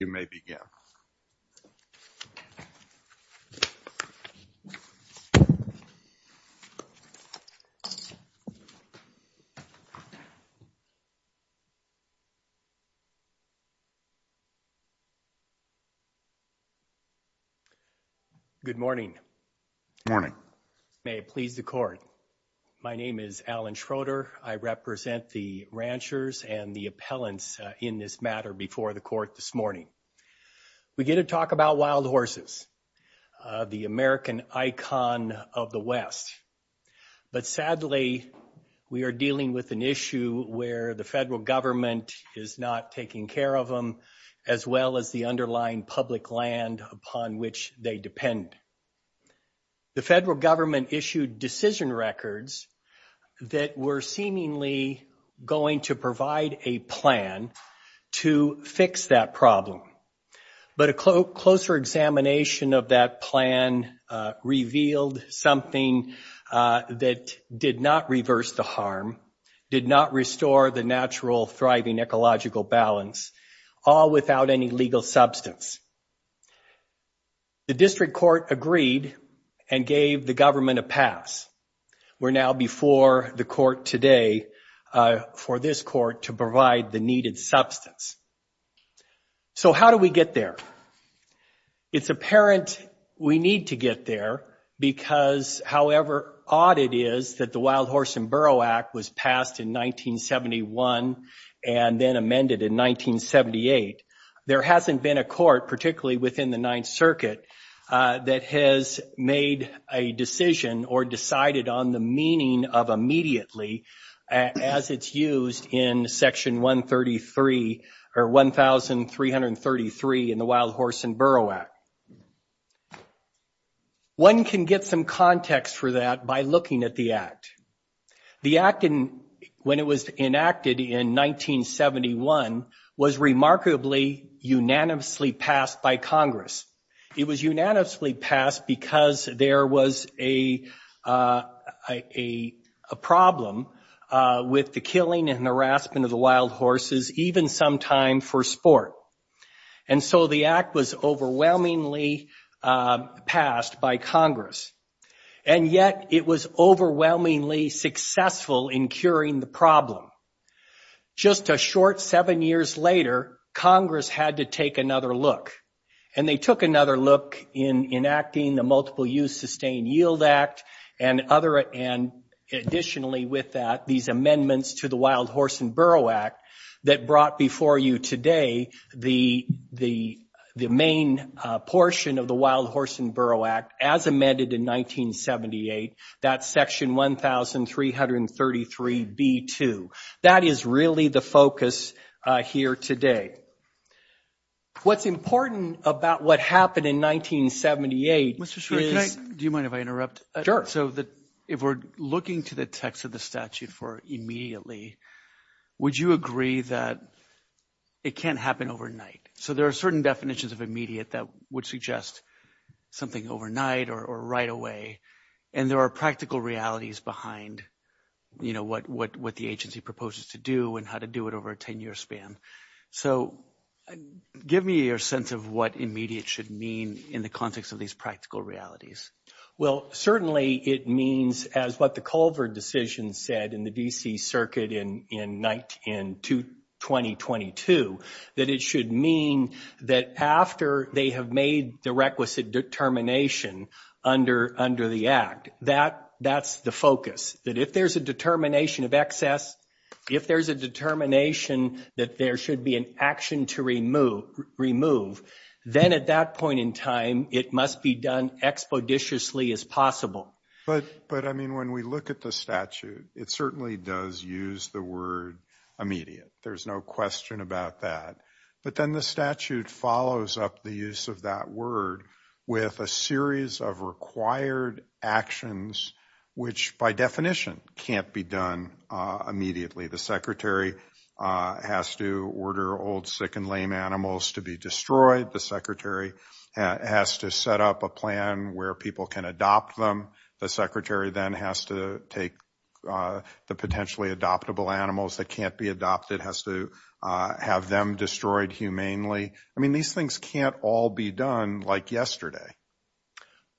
You may begin. Good morning. Morning. May it please the court. My name is Alan Schroeder. I represent the ranchers and the appellants in this matter before the court this morning. We get to talk about wild horses, the American icon of the West. But sadly, we are dealing with an issue where the federal government is not taking care of them as well as the underlying public land upon which they depend. The federal government issued decision records that were seemingly going to provide a plan to fix that problem. But a closer examination of that plan revealed something that did not reverse the harm, did not restore the natural thriving ecological balance, all without any legal substance. The district court agreed and gave the government a pass. We're now before the court today for this court to provide the needed substance. So how do we get there? It's apparent we need to get there because however odd it is that the Wild Horse and Burrow Act was passed in 1971 and then amended in 1978, there hasn't been a court, particularly within the Ninth Circuit, that has made a decision or decided on the meaning of immediately as it's used in Section 133 or 1333 in the Wild Horse and Burrow Act. One can get some context for that by looking at the Act. The Act, when it was enacted in 1971, was remarkably unanimously passed by Congress. It was unanimously passed because there was a problem with the killing and harassment of the wild horses, even sometime for sport. And so the Act was overwhelmingly passed by Congress and yet it was overwhelmingly successful in curing the Just a short seven years later, Congress had to take another look and they took another look in enacting the multiple use Sustained Yield Act and other and additionally with that these amendments to the Wild Horse and Burrow Act that brought before you today the main portion of the Wild Horse and Burrow Act as amended in 1978. That's Section 1333 B2. That is really the focus here today. What's important about what happened in 1978 is Do you mind if I interrupt? So that if we're looking to the text of the statute for immediately, would you agree that it can't happen overnight? So there are certain definitions of immediate that would suggest something overnight or right away and there are practical realities behind you know, what the agency proposes to do and how to do it over a 10-year span. So give me your sense of what immediate should mean in the context of these practical realities. Well, certainly it means as what the Colvard decision said in the DC Circuit in 2022 that it should mean that after they have made the requisite determination under the Act, that's the focus that if there's a determination of excess, if there's a determination that there should be an action to then at that point in time, it must be done expeditiously as possible. But I mean when we look at the statute, it certainly does use the word immediate. There's no question about that. But then the statute follows up the use of that word with a series of required actions, which by definition can't be done immediately. The secretary has to order old sick and lame animals to be destroyed. The secretary has to set up a plan where people can adopt them. The secretary then has to take the potentially adoptable animals that can't be adopted, has to have them destroyed humanely. I mean these things can't all be done like yesterday.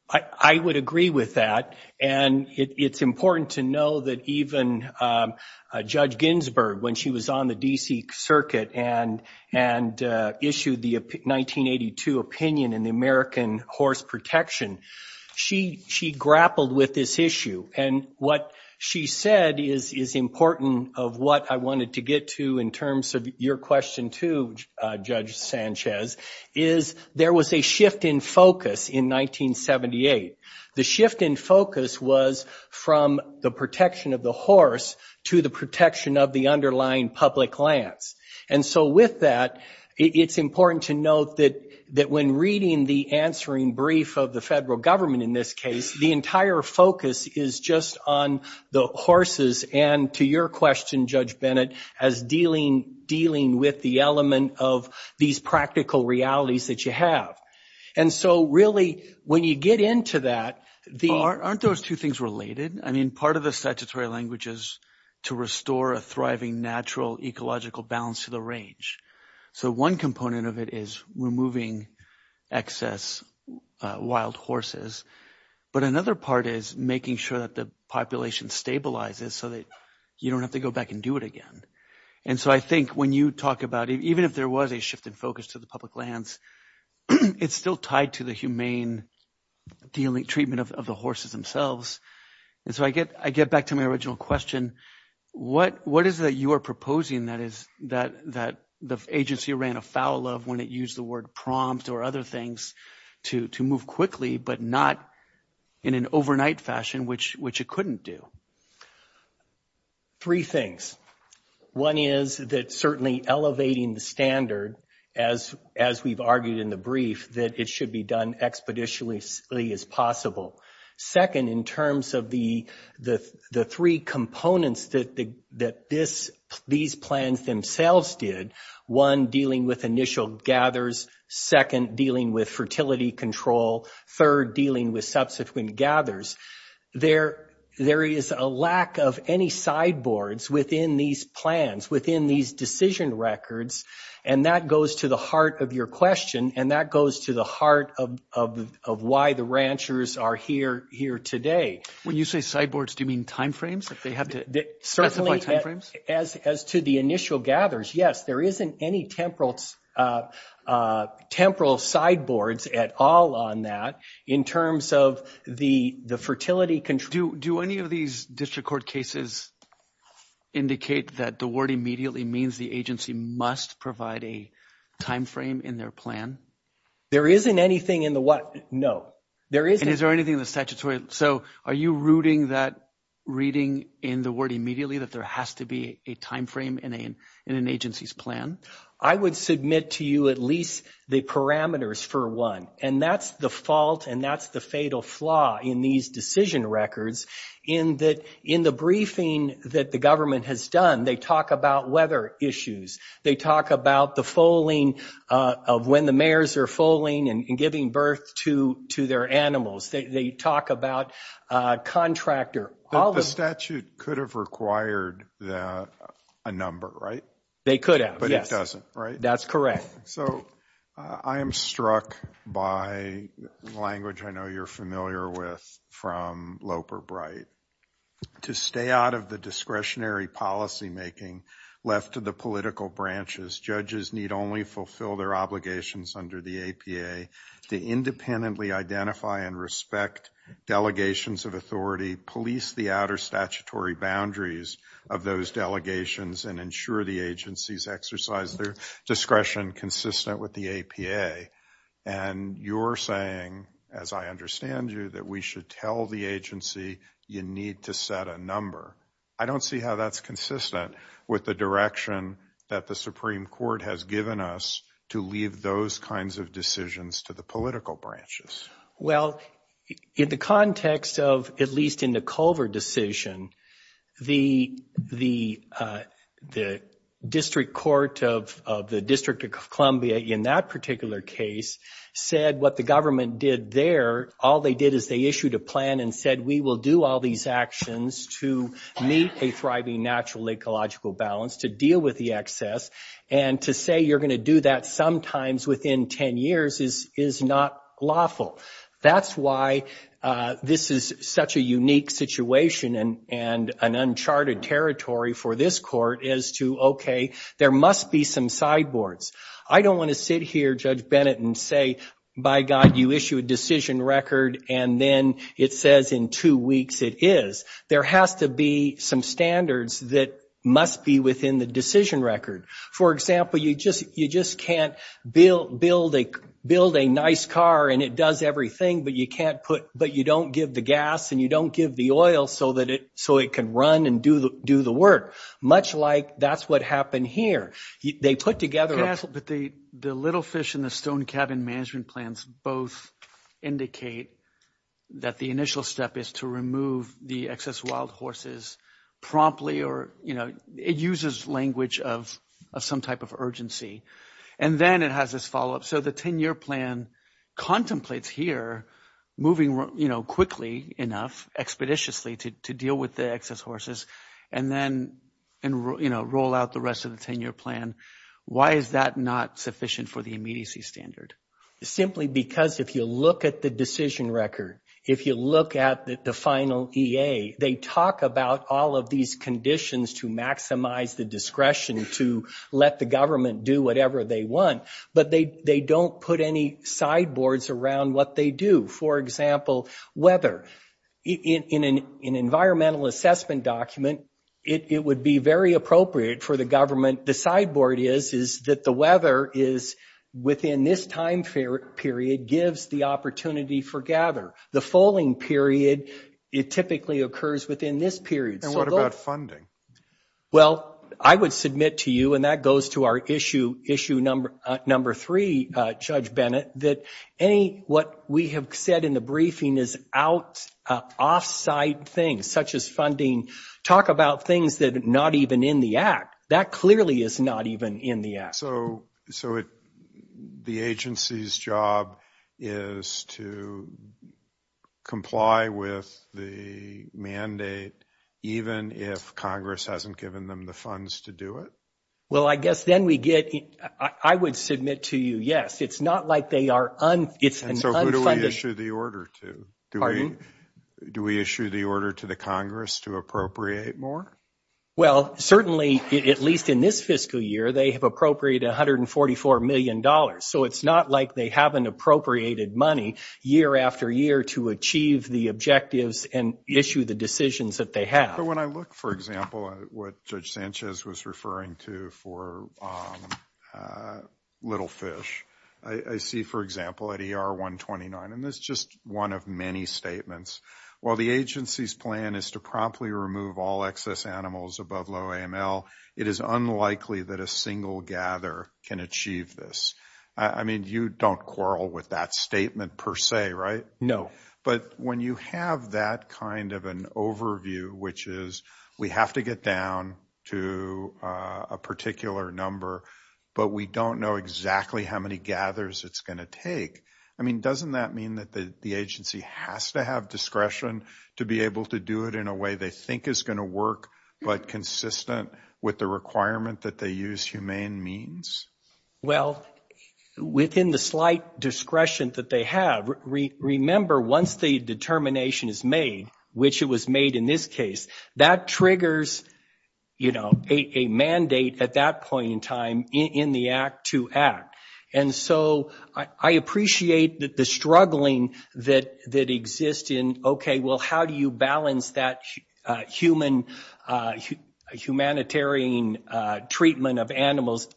I would agree with that. And it's important to know that even Judge Ginsburg, when she was on the DC Circuit and issued the 1982 opinion in the American Horse Protection, she grappled with this issue. And what she said is important of what I wanted to get to in terms of your question too, Judge Sanchez, is there was a shift in focus in 1978. The shift in focus was from the protection of the horse to the protection of the underlying public lands. And so with that, it's important to note that when reading the answering brief of the federal government in this case, the entire focus is just on the horses and to your question, Judge Bennett, as dealing with the element of these practical realities that you have. And so really when you get into that, Aren't those two things related? I mean part of the statutory language is to restore a thriving natural ecological balance to the range. So one component of it is removing excess wild horses. But another part is making sure that the population stabilizes so that you don't have to go back and do it again. And so I think when you talk about it, even if there was a shift in focus to the public lands, it's still tied to the humane dealing treatment of the horses themselves. And so I get back to my original question. What is that you are proposing? That is that the agency ran afoul of when it used the word prompt or other things to move quickly, but not in an overnight fashion, which it couldn't do. Three things. One is that certainly elevating the standard as we've argued in the brief that it should be done expeditiously as possible. Second, in terms of the three components that these plans themselves did, one dealing with initial gathers, second dealing with fertility control, third dealing with subsequent gathers, there is a lack of any sideboards within these plans, within these decision records, and that goes to the heart of your question, and that goes to the heart of of why the ranchers are here today. When you say sideboards, do you mean timeframes? If they have to specify timeframes? Certainly, as to the initial gathers, yes, there isn't any temporal temporal sideboards at all on that in terms of the fertility control. Do any of these district court cases indicate that the word immediately means the agency must provide a timeframe in their plan? There isn't anything in the what? No, there isn't. Is there anything in the statutory? So are you rooting that reading in the word immediately that there has to be a timeframe in an agency's plan? I would submit to you at least the parameters for one, and that's the fault, and that's the fatal flaw in these decision records in that in the briefing that the government has done, they talk about weather issues. They talk about the foaling of when the mayors are foaling and giving birth to their animals. They talk about contractor. The statute could have required that, a number, right? They could have, yes. But it doesn't, right? That's correct. So I am struck by language I know you're familiar with from Loper Bright. To stay out of the discretionary policymaking left to the political branches. Judges need only fulfill their obligations under the APA to independently identify and respect delegations of authority, police the outer statutory boundaries of those delegations, and ensure the agencies exercise their discretion consistent with the APA. And you're saying, as I understand you, that we should tell the agency you need to set a number. I don't see how that's consistent with the direction that the Supreme Court has given us to leave those kinds of decisions to the political branches. Well, in the context of, at least in the Culver decision, the District Court of the District of Columbia, in that particular case, said what the government did there, all they did is they issued a plan and said, we will do all these actions to meet a thriving natural ecological balance, to deal with the excess, and to say you're going to do that sometimes within 10 years is not lawful. That's why this is such a unique situation and an uncharted territory for this court as to, okay, there must be some sideboards. I don't want to sit here, Judge Bennett, and say, by God, you issue a decision record and then it says in two weeks it is. There has to be some standards that must be within the decision record. For example, you just can't build a nice car and it does everything, but you don't give the gas and you don't give the oil so it can run and do the work. Much like that's what happened here. They put together a... But the Little Fish and the Stone Cabin management plans both indicate that the initial step is to remove the excess wild horses promptly or, you know, it uses language of some type of urgency. And then it has this follow-up. So the 10-year plan contemplates here, moving, you know, quickly enough, expeditiously to deal with the excess horses, and then, you know, roll out the rest of the 10-year plan. Why is that not sufficient for the immediacy standard? Simply because if you look at the decision record, if you look at the final EA, they talk about all of these conditions to maximize the discretion to let the government do whatever they want, but they don't put any sideboards around what they do. For example, weather. In an environmental assessment document, it would be very appropriate for the government, the sideboard is, is that the weather is, within this time period, gives the opportunity for gather. The foaling period, it typically occurs within this period. And what about funding? Well, I would submit to you, and that goes to our issue number three, Judge Bennett, that any, what we have said in the briefing, is out, off-site things, such as funding. Talk about things that are not even in the Act. That clearly is not even in the Act. So, so it, the agency's job is to comply with the mandate, even if Congress hasn't given them the funds to do it? Well, I guess then we get, I would submit to you, yes, it's not like they are unfunded. And so who do we issue the order to? Pardon? Do we issue the order to the Congress to appropriate more? Well, certainly, at least in this fiscal year, they have appropriated $144 million. So it's not like they haven't appropriated money, year after year, to achieve the objectives and issue the decisions that they have. But when I look, for example, at what Judge Sanchez was referring to for Little Fish, I see, for example, at ER 129, and this is just one of many statements. While the agency's plan is to promptly remove all excess animals above low AML, it is unlikely that a single gather can achieve this. I mean, you don't quarrel with that statement per se, right? No. But when you have that kind of an overview, which is, we have to get down to a particular number, but we don't know exactly how many gathers it's going to take, I mean, doesn't that mean that the agency has to have discretion to be able to do it in a way they think is going to work, but consistent with the requirement that they use humane means? Well, within the slight discretion that they have, remember, once the determination is made, which it was made in this case, that triggers, you know, a mandate at that point in time in the Act to Act. And so I appreciate the struggling that exists in, okay, well, how do you balance that human, humanitarian treatment of animals?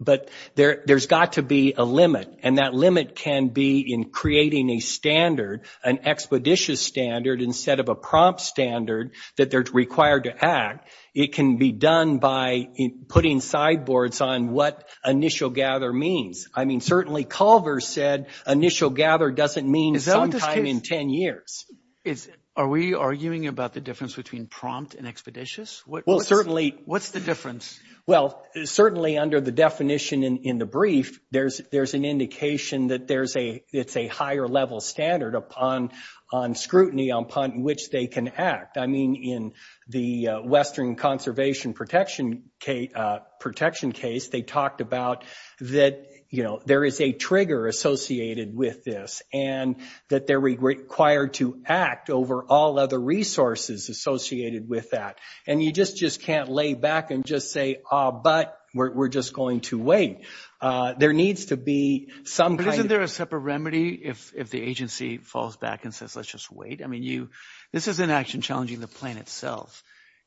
But there's got to be a limit, and that limit can be in creating a standard, an expeditious standard instead of a prompt standard that they're required to act. It can be done by putting sideboards on what initial gather means. I mean, certainly Culver said initial gather doesn't mean sometime in 10 years. Are we arguing about the difference between prompt and expeditious? Well, certainly. What's the difference? Well, certainly under the definition in the brief, there's an indication that it's a higher level standard upon scrutiny upon which they can act. I mean, in the Western Conservation Protection case, they talked about that, you know, there is a trigger associated with this, and that they're required to act over all other resources associated with that. And you just can't lay back and just say, oh, but we're just going to wait. There needs to be some kind of... But isn't there a separate remedy if the agency falls back and says, let's just wait? I mean, this is an action challenging the plan itself.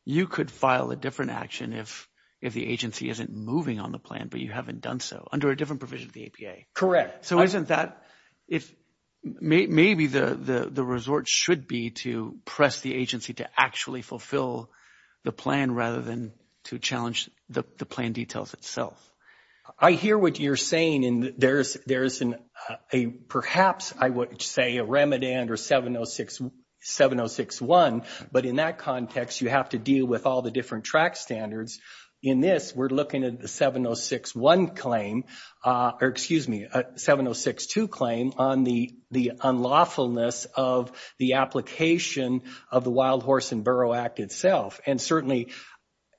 You could file a different action if the agency isn't moving on the plan, but you haven't done so, under a different provision of the APA. Correct. So isn't that, maybe the resort should be to press the agency to actually fulfill the plan rather than to challenge the plan details itself. I hear what you're saying, and there's perhaps, I would say, a remedy under 7061, but in that context, you have to deal with all the different track standards. In this, we're looking at the 7061 claim, or excuse me, a 7062 claim on the unlawfulness of the application of the Wild Horse and Burrow Act itself. And certainly,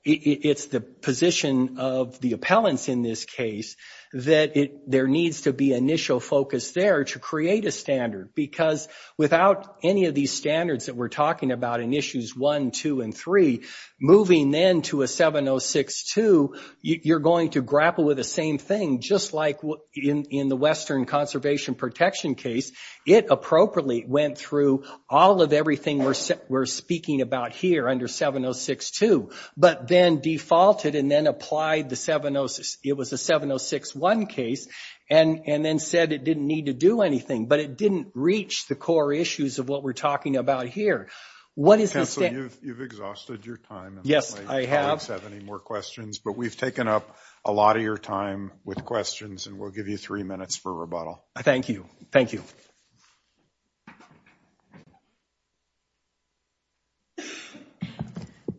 it's the position of the appellants in this case that there needs to be initial focus there to create a standard, because without any of these standards that we're talking about in issues one, two, and three, moving then to a 7062, you're going to grapple with the same thing, just like in the Western Conservation Protection case. It appropriately went through all of everything we're speaking about here under 7062, but then defaulted and then applied the 706, it was a 7061 case, and then said it didn't need to do anything, but it didn't reach the core issues of what we're talking about here. What is the standard? Counselor, you've exhausted your time. Yes, I have. My colleagues have any more questions, but we've taken up a lot of your time with questions, and we'll give you three minutes for rebuttal. Thank you. Thank you.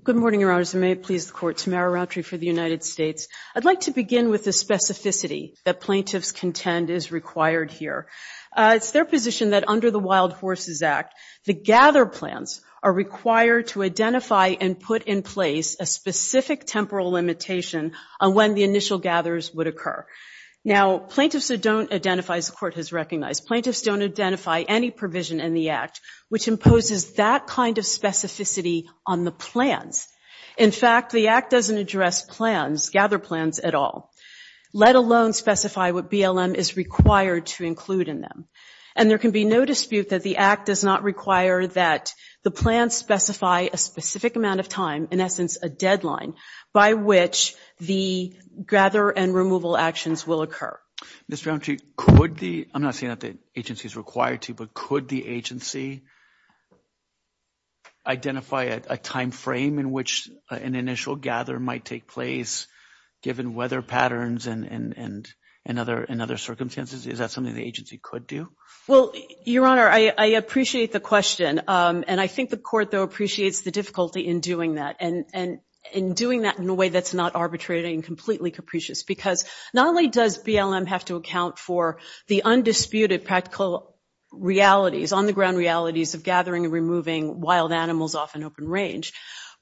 Good morning, Your Honors. May it please the Court. Tamara Rountree for the United States. I'd like to begin with the specificity that plaintiffs contend is required here. It's their position that under the Wild Horses Act, the gather plans are required to identify and put in place a specific temporal limitation on when the initial gathers would occur. Now, plaintiffs don't identify, as the Court has recognized, plaintiffs don't identify any provision in the Act which imposes that kind of specificity on the plans. In fact, the Act doesn't address plans, gather plans at all, let alone specify what BLM is required to include in them. And there can be no dispute that the Act does not require that the plans specify a specific amount of time, in essence, a deadline, by which the gather and removal actions will occur. Ms. Rountree, could the, I'm not saying that the agency is required to, but could the agency identify a timeframe in which an initial gather might take place, given weather patterns and other circumstances? Is that something the agency could do? Well, Your Honor, I appreciate the question. And I think the Court, though, appreciates the difficulty in doing that. And in doing that in a way that's not arbitrating, completely capricious. Because not only does BLM have to account for the undisputed practical realities, on-the-ground realities of gathering and removing wild animals off an open range,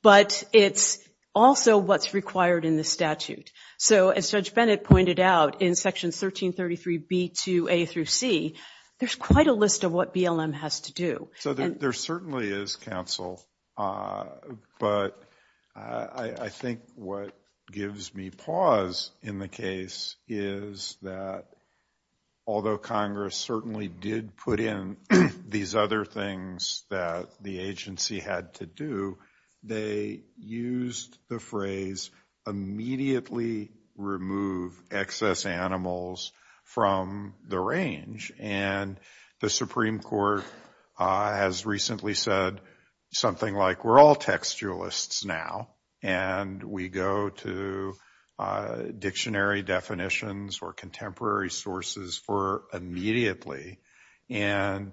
but it's also what's required in the statute. So, as Judge Bennett pointed out, in Sections 1333b to a through c, there's quite a list of what BLM has to do. So there certainly is counsel, but I think what gives me pause in the case is that although Congress certainly did put in these other things that the agency had to do, they used the phrase immediately remove excess animals from the range. And the Supreme Court has recently said something like we're all textualists now and we go to dictionary definitions or contemporary sources for immediately. And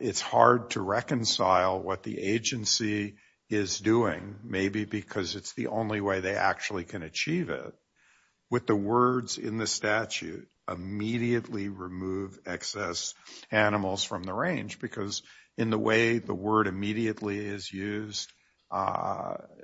it's hard to reconcile what the agency is doing, maybe because it's the only way they actually can achieve it, with the words in the statute immediately remove excess animals from the range. Because in the way the word immediately is used,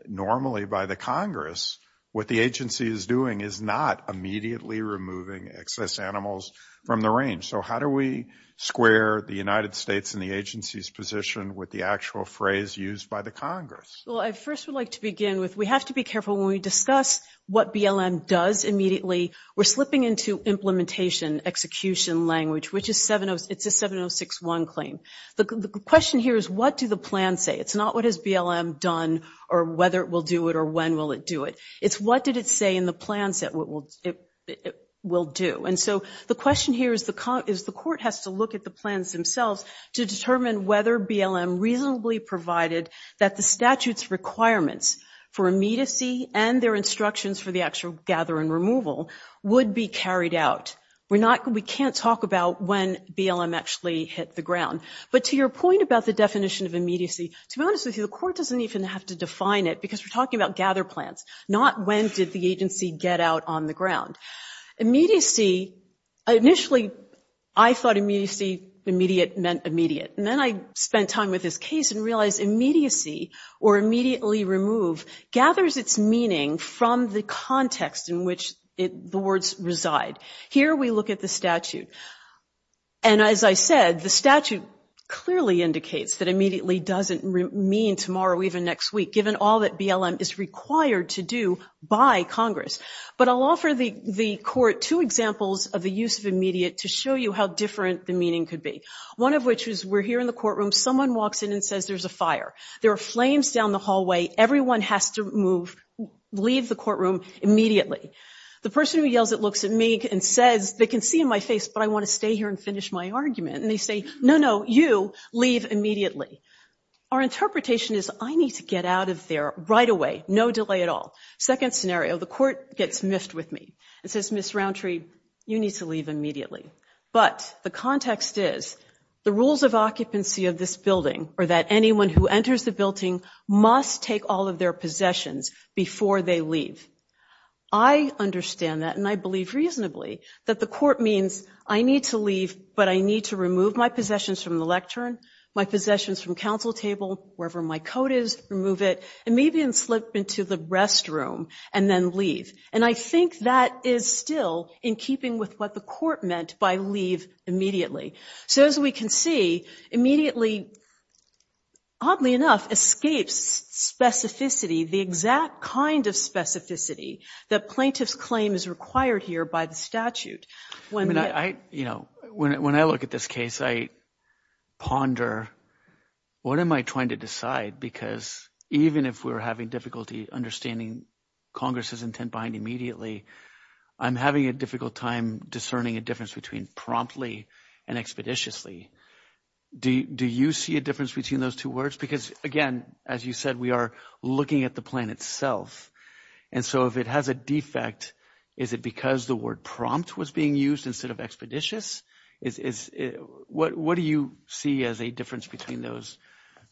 normally by the Congress, what the agency is doing is not immediately removing excess animals from the range. So how do we square the United States and the agency's position with the actual phrase used by the Congress? Well, I first would like to begin with, we have to be careful when we discuss what BLM does immediately. We're slipping into implementation execution language, which is, it's a 7061 claim. The question here is what do the plans say? It's not what has BLM done or whether it will do it or when will it do it. It's what did it say in the plans that it will do. And so the question here is the court has to look at the plans themselves to determine whether BLM reasonably provided that the statute's requirements for immediacy and their instructions for the actual gather and removal would be carried out. We can't talk about when BLM actually hit the ground. But to your point about the definition of immediacy, to be honest with you, the court doesn't even have to define it because we're talking about gather plans, not when did the agency get out on the ground. Immediacy, initially, I thought immediacy, immediate, meant immediate. And then I spent time with this case and realized immediacy or immediately remove gathers its meaning from the context in which the words reside. Here we look at the statute. And as I said, the statute clearly indicates that immediately doesn't mean tomorrow, even next week, given all that BLM is required to do by Congress. But I'll offer the court two examples of the use of immediate to show you how different the meaning could be. One of which is we're here in the courtroom. Someone walks in and says there's a fire. There are flames down the hallway. Everyone has to move, leave the courtroom immediately. The person who yells at looks at me and says they can see in my face, but I want to stay here and finish my argument. And they say, no, no, you leave immediately. Our interpretation is I need to get out of there right away. No delay at all. Second scenario, the court gets miffed with me and says, Miss Rountree, you need to leave immediately. But the context is the rules of occupancy of this building or that anyone who enters the building must take all of their possessions before they leave. I understand that and I believe reasonably that the court means I need to leave, but I need to remove my possessions from the lectern, my possessions from counsel table, wherever my coat is, remove it, and maybe slip into the restroom and then leave. And I think that is still in keeping with what the court meant by leave immediately. So as we can see, immediately, oddly enough, escapes specificity, the exact kind of specificity that plaintiff's claim is required here by the statute. When I look at this case, I ponder what am I trying to decide because even if we're having difficulty understanding Congress's intent behind immediately, I'm having a difficult time discerning a difference between promptly and expeditiously. Do you see a difference between those two words? Because again, as you said, we are looking at the plan itself. And so if it has a defect, is it because the word prompt was being used instead of expeditious? What do you see as a difference between those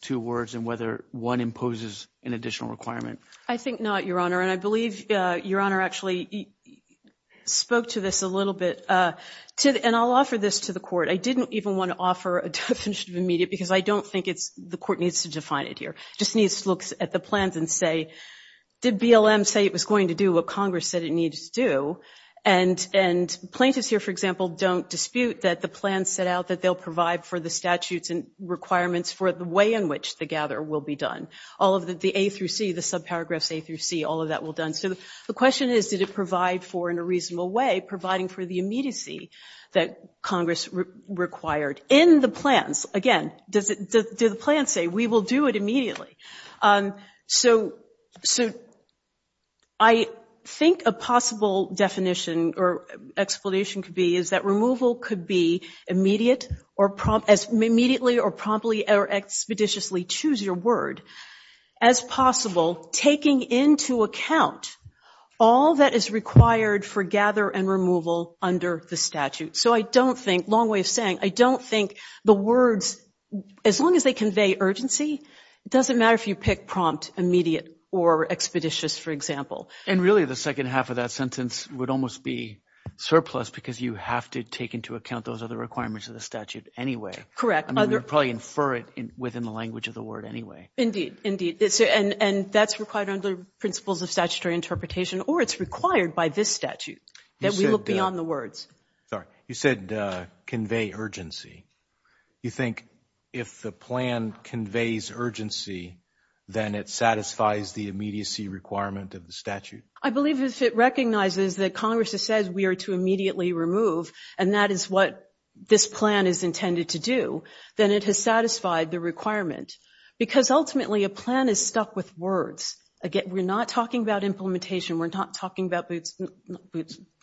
two words and whether one imposes an additional requirement? I think not, Your Honor, and I believe Your Honor actually spoke to this a little bit. And I'll offer this to the court. I didn't even want to offer a definition of immediate because I don't think the court needs to define it here. It just needs to look at the plans and say, did BLM say it was going to do what Congress said it needed to do? And plaintiffs here, for example, don't dispute that the plans set out that they'll provide for the statutes and requirements for the way in which the gatherer will be done. All of the A through C, the subparagraphs A through C, all of that will be done. So the question is, did it provide for, in a reasonable way, providing for the immediacy that Congress required in the plans? Again, do the plans say, we will do it immediately? So I think a possible definition or explanation could be is that removal could be immediate or promptly or expeditiously, choose your word, as possible, taking into account all that is required for gather and removal under the statute. So I don't think, long way of saying, I don't think the words, as long as they convey urgency, it doesn't matter if you pick prompt, immediate, or expeditious, for example. And really the second half of that sentence would almost be surplus because you have to take into account those other requirements of the statute anyway. You'd probably infer it within the language of the word anyway. And that's required under principles of statutory interpretation or it's required by this statute that we look beyond the words. Sorry. You said convey urgency. You think if the plan conveys urgency, then it satisfies the immediacy requirement of the statute? I believe if it recognizes that Congress says we are to immediately remove and that is what this plan is intended to do, then it has satisfied the requirement. Because ultimately a plan is stuck with words. Again, we're not talking about implementation. We're not talking about boots,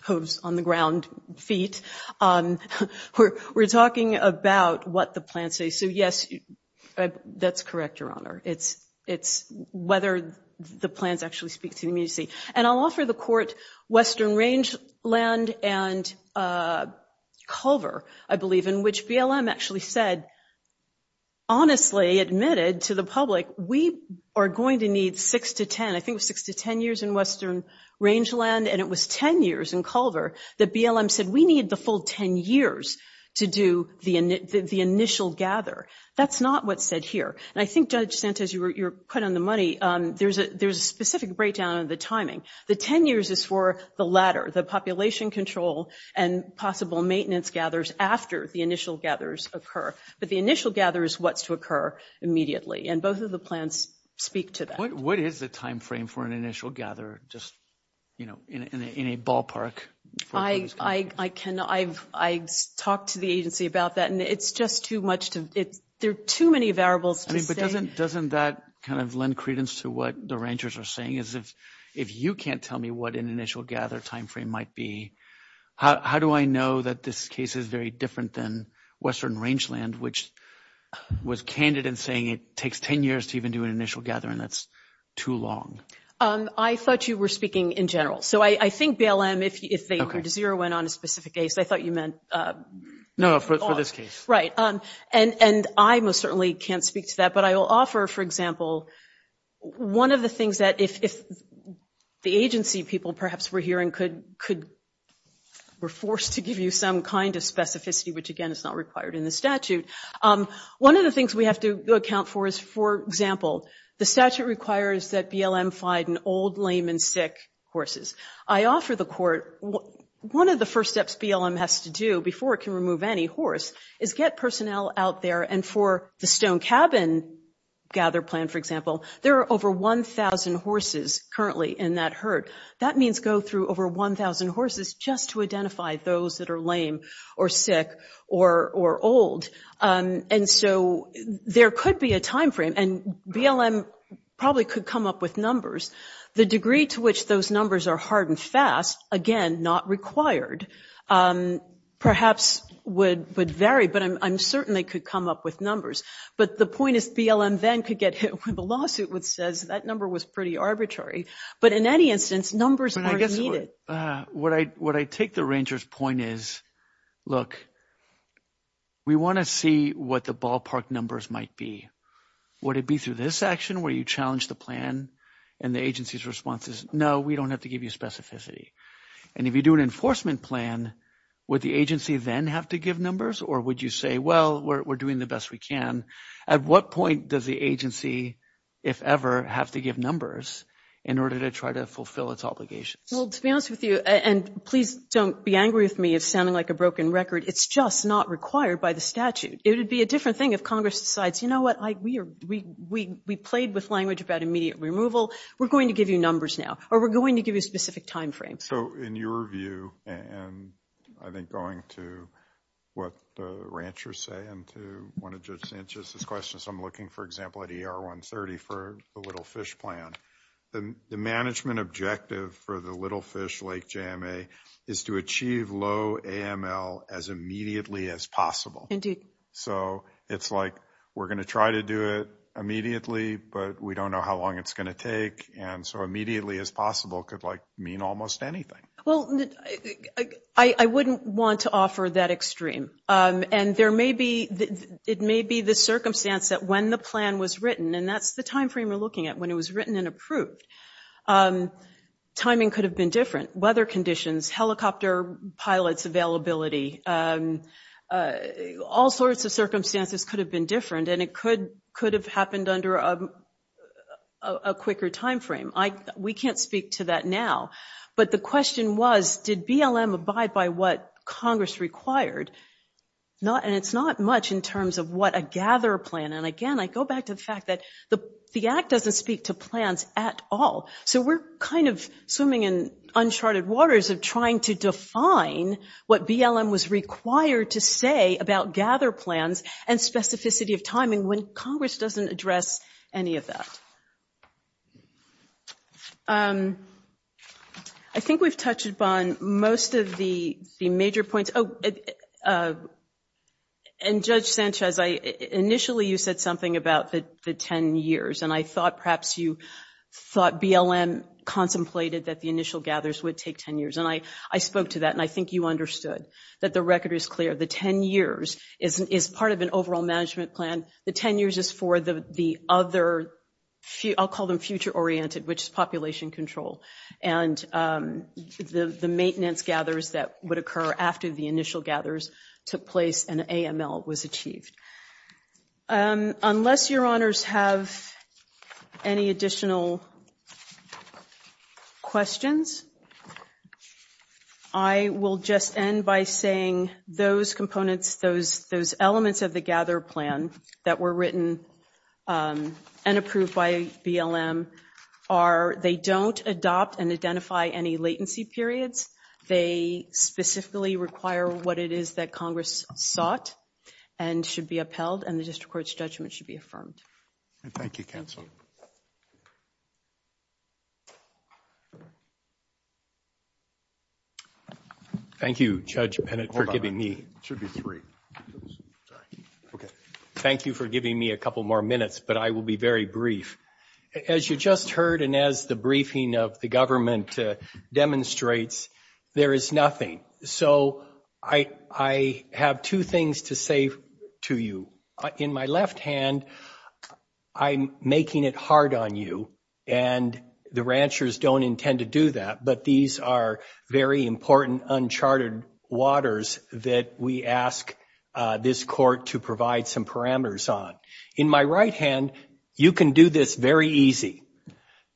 hooves on the ground, feet. We're talking about what the plan says. So yes, that's correct, Your Honor. It's whether the plans actually speak to the immediacy. And I'll offer the court Western Rangeland and Culver, I believe, in which BLM actually said honestly admitted to the public we are going to need six to ten. I think it was six to ten years in Western Rangeland and it was ten years in Culver that BLM said we need the full ten years to do the initial gather. That's not what's said here. And I think, Judge Santos, you're quite on the money. There's a specific breakdown in the timing. The ten years is for the latter, the population control and possible maintenance gathers after the initial gathers occur. But the initial gather is what's to occur immediately and both of the plans speak to that. What is the time frame for an initial gather just, you know, in a ballpark? I talked to the agency about that and it's just too much to, there are too many variables to say. But doesn't that kind of lend credence to what the rangers are saying is if you can't tell me what an initial gather time frame might be, how do I know that this case is very different than Western Rangeland which was candid in saying it takes ten years to even do an initial gather and that's too long? I thought you were speaking in general. So I think BLM if they heard zero went on a specific case I thought you meant No, for this case. Right. And I most certainly can't speak to that but I will offer for example one of the things that if the agency people perhaps were hearing could, were forced to give you some kind of specificity which again is not required in the statute. One of the things we have to account for is for example the statute requires that BLM find an old, lame and sick horses. I offer the court one of the first steps BLM has to do before it can remove any horse is get personnel out there and for the stone cabin gather plan for example there are over 1,000 horses currently in that herd. That means go through over 1,000 horses just to identify those that are lame or sick or old. And so there could be a time frame and BLM probably could come up with numbers. The degree to which those numbers are hard and fast again not required perhaps would vary but I'm certain they could come up with numbers but the point is BLM then could get hit with a lawsuit which says that number was pretty arbitrary but in any instance numbers are needed. What I take the ranger's point is look we want to see what the ballpark numbers might be. Would it be through this action where you challenge the plan and the agency's response is no we don't have to give you specificity and if you do an enforcement plan would the agency then have to give numbers or would you say well we're doing the best we can. At what point does the agency if ever have to give numbers in order to try to fulfill its obligations? Well to be honest with you and please don't be angry with me if sounding like a broken record. It's just not required by the statute. It would be a different thing if Congress decides you know what we played with language about immediate removal we're going to give you numbers now or we're going to give you specific time frames. So in your view and I think going to what the ranchers say and to one of Judge Sanchez's questions. I'm looking for example at ER 130 for the Little Fish plan. The management objective for the Little Fish Lake JMA is to achieve low AML as immediately as possible. Indeed. So it's like we're going to try to do it immediately but we don't know how long it's going to take and so immediately as possible could like mean almost anything. Well I wouldn't want to offer that extreme and there may be it may be the circumstance that when the plan was written and that's the time frame we're looking at when it was written and approved. Timing could have been different. Weather conditions, helicopter pilots availability all sorts of circumstances could have been different and it could have happened under a quicker time frame. We can't speak to that now but the question was did BLM abide by what Congress required? Not and it's not much in terms of what a gather plan and again I go back to the fact that the Act doesn't speak to plans at all so we're kind of swimming in uncharted waters of trying to define what BLM was required to say about gather plans and specificity of timing when Congress doesn't address any of that. I think we've touched upon most of the major points and Judge Sanchez initially you said something about the 10 years and I thought perhaps you thought BLM contemplated that the initial gathers would take 10 years and I spoke to that and I think you understood that the record is clear. The 10 years is part of an overall I'll call them future oriented which is population control and the maintenance gathers that would occur after the initial gathers took place and AML was achieved. Unless your honors have any additional questions I will just end by saying those components those elements of the gather plan that were written and approved by BLM are they don't adopt and identify any latency periods. They specifically require what it is that sought and should be upheld and the district court's judgment should be affirmed. Thank you counsel. Thank you Judge Bennett for giving me three. Okay. Thank you for giving me a couple more minutes but I will be very brief. As you just heard and as the briefing of the government demonstrates there is nothing. So I have two things to say to you. In my left hand I'm making it hard on you and the ranchers don't intend to do that but these are very important uncharted waters that we ask this court to provide some parameters on. In my right hand you can do this very easy.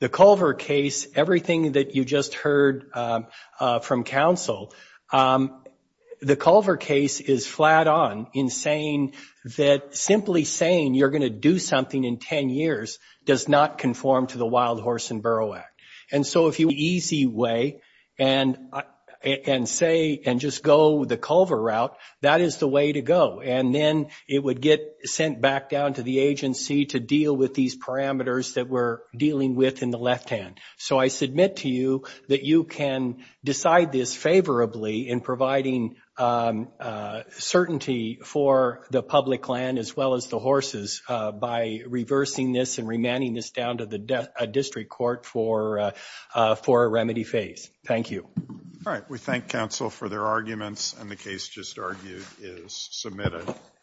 The Culver case, everything that you just heard from counsel, the Culver case is flat on in saying that simply saying you're going to do something in 10 years does not conform to the wild horse and burrow act. So if you go the Culver route that is the way to go. Then it would get sent back to the agency to deal with the parameters in the left hand. I submit to you that you can decide this favorably in providing certainty for the public land as well as the horses by reversing this and remanding this down to the district court for a remedy phase. Thank you. All right. We thank counsel for their arguments and the case just argued is submitted.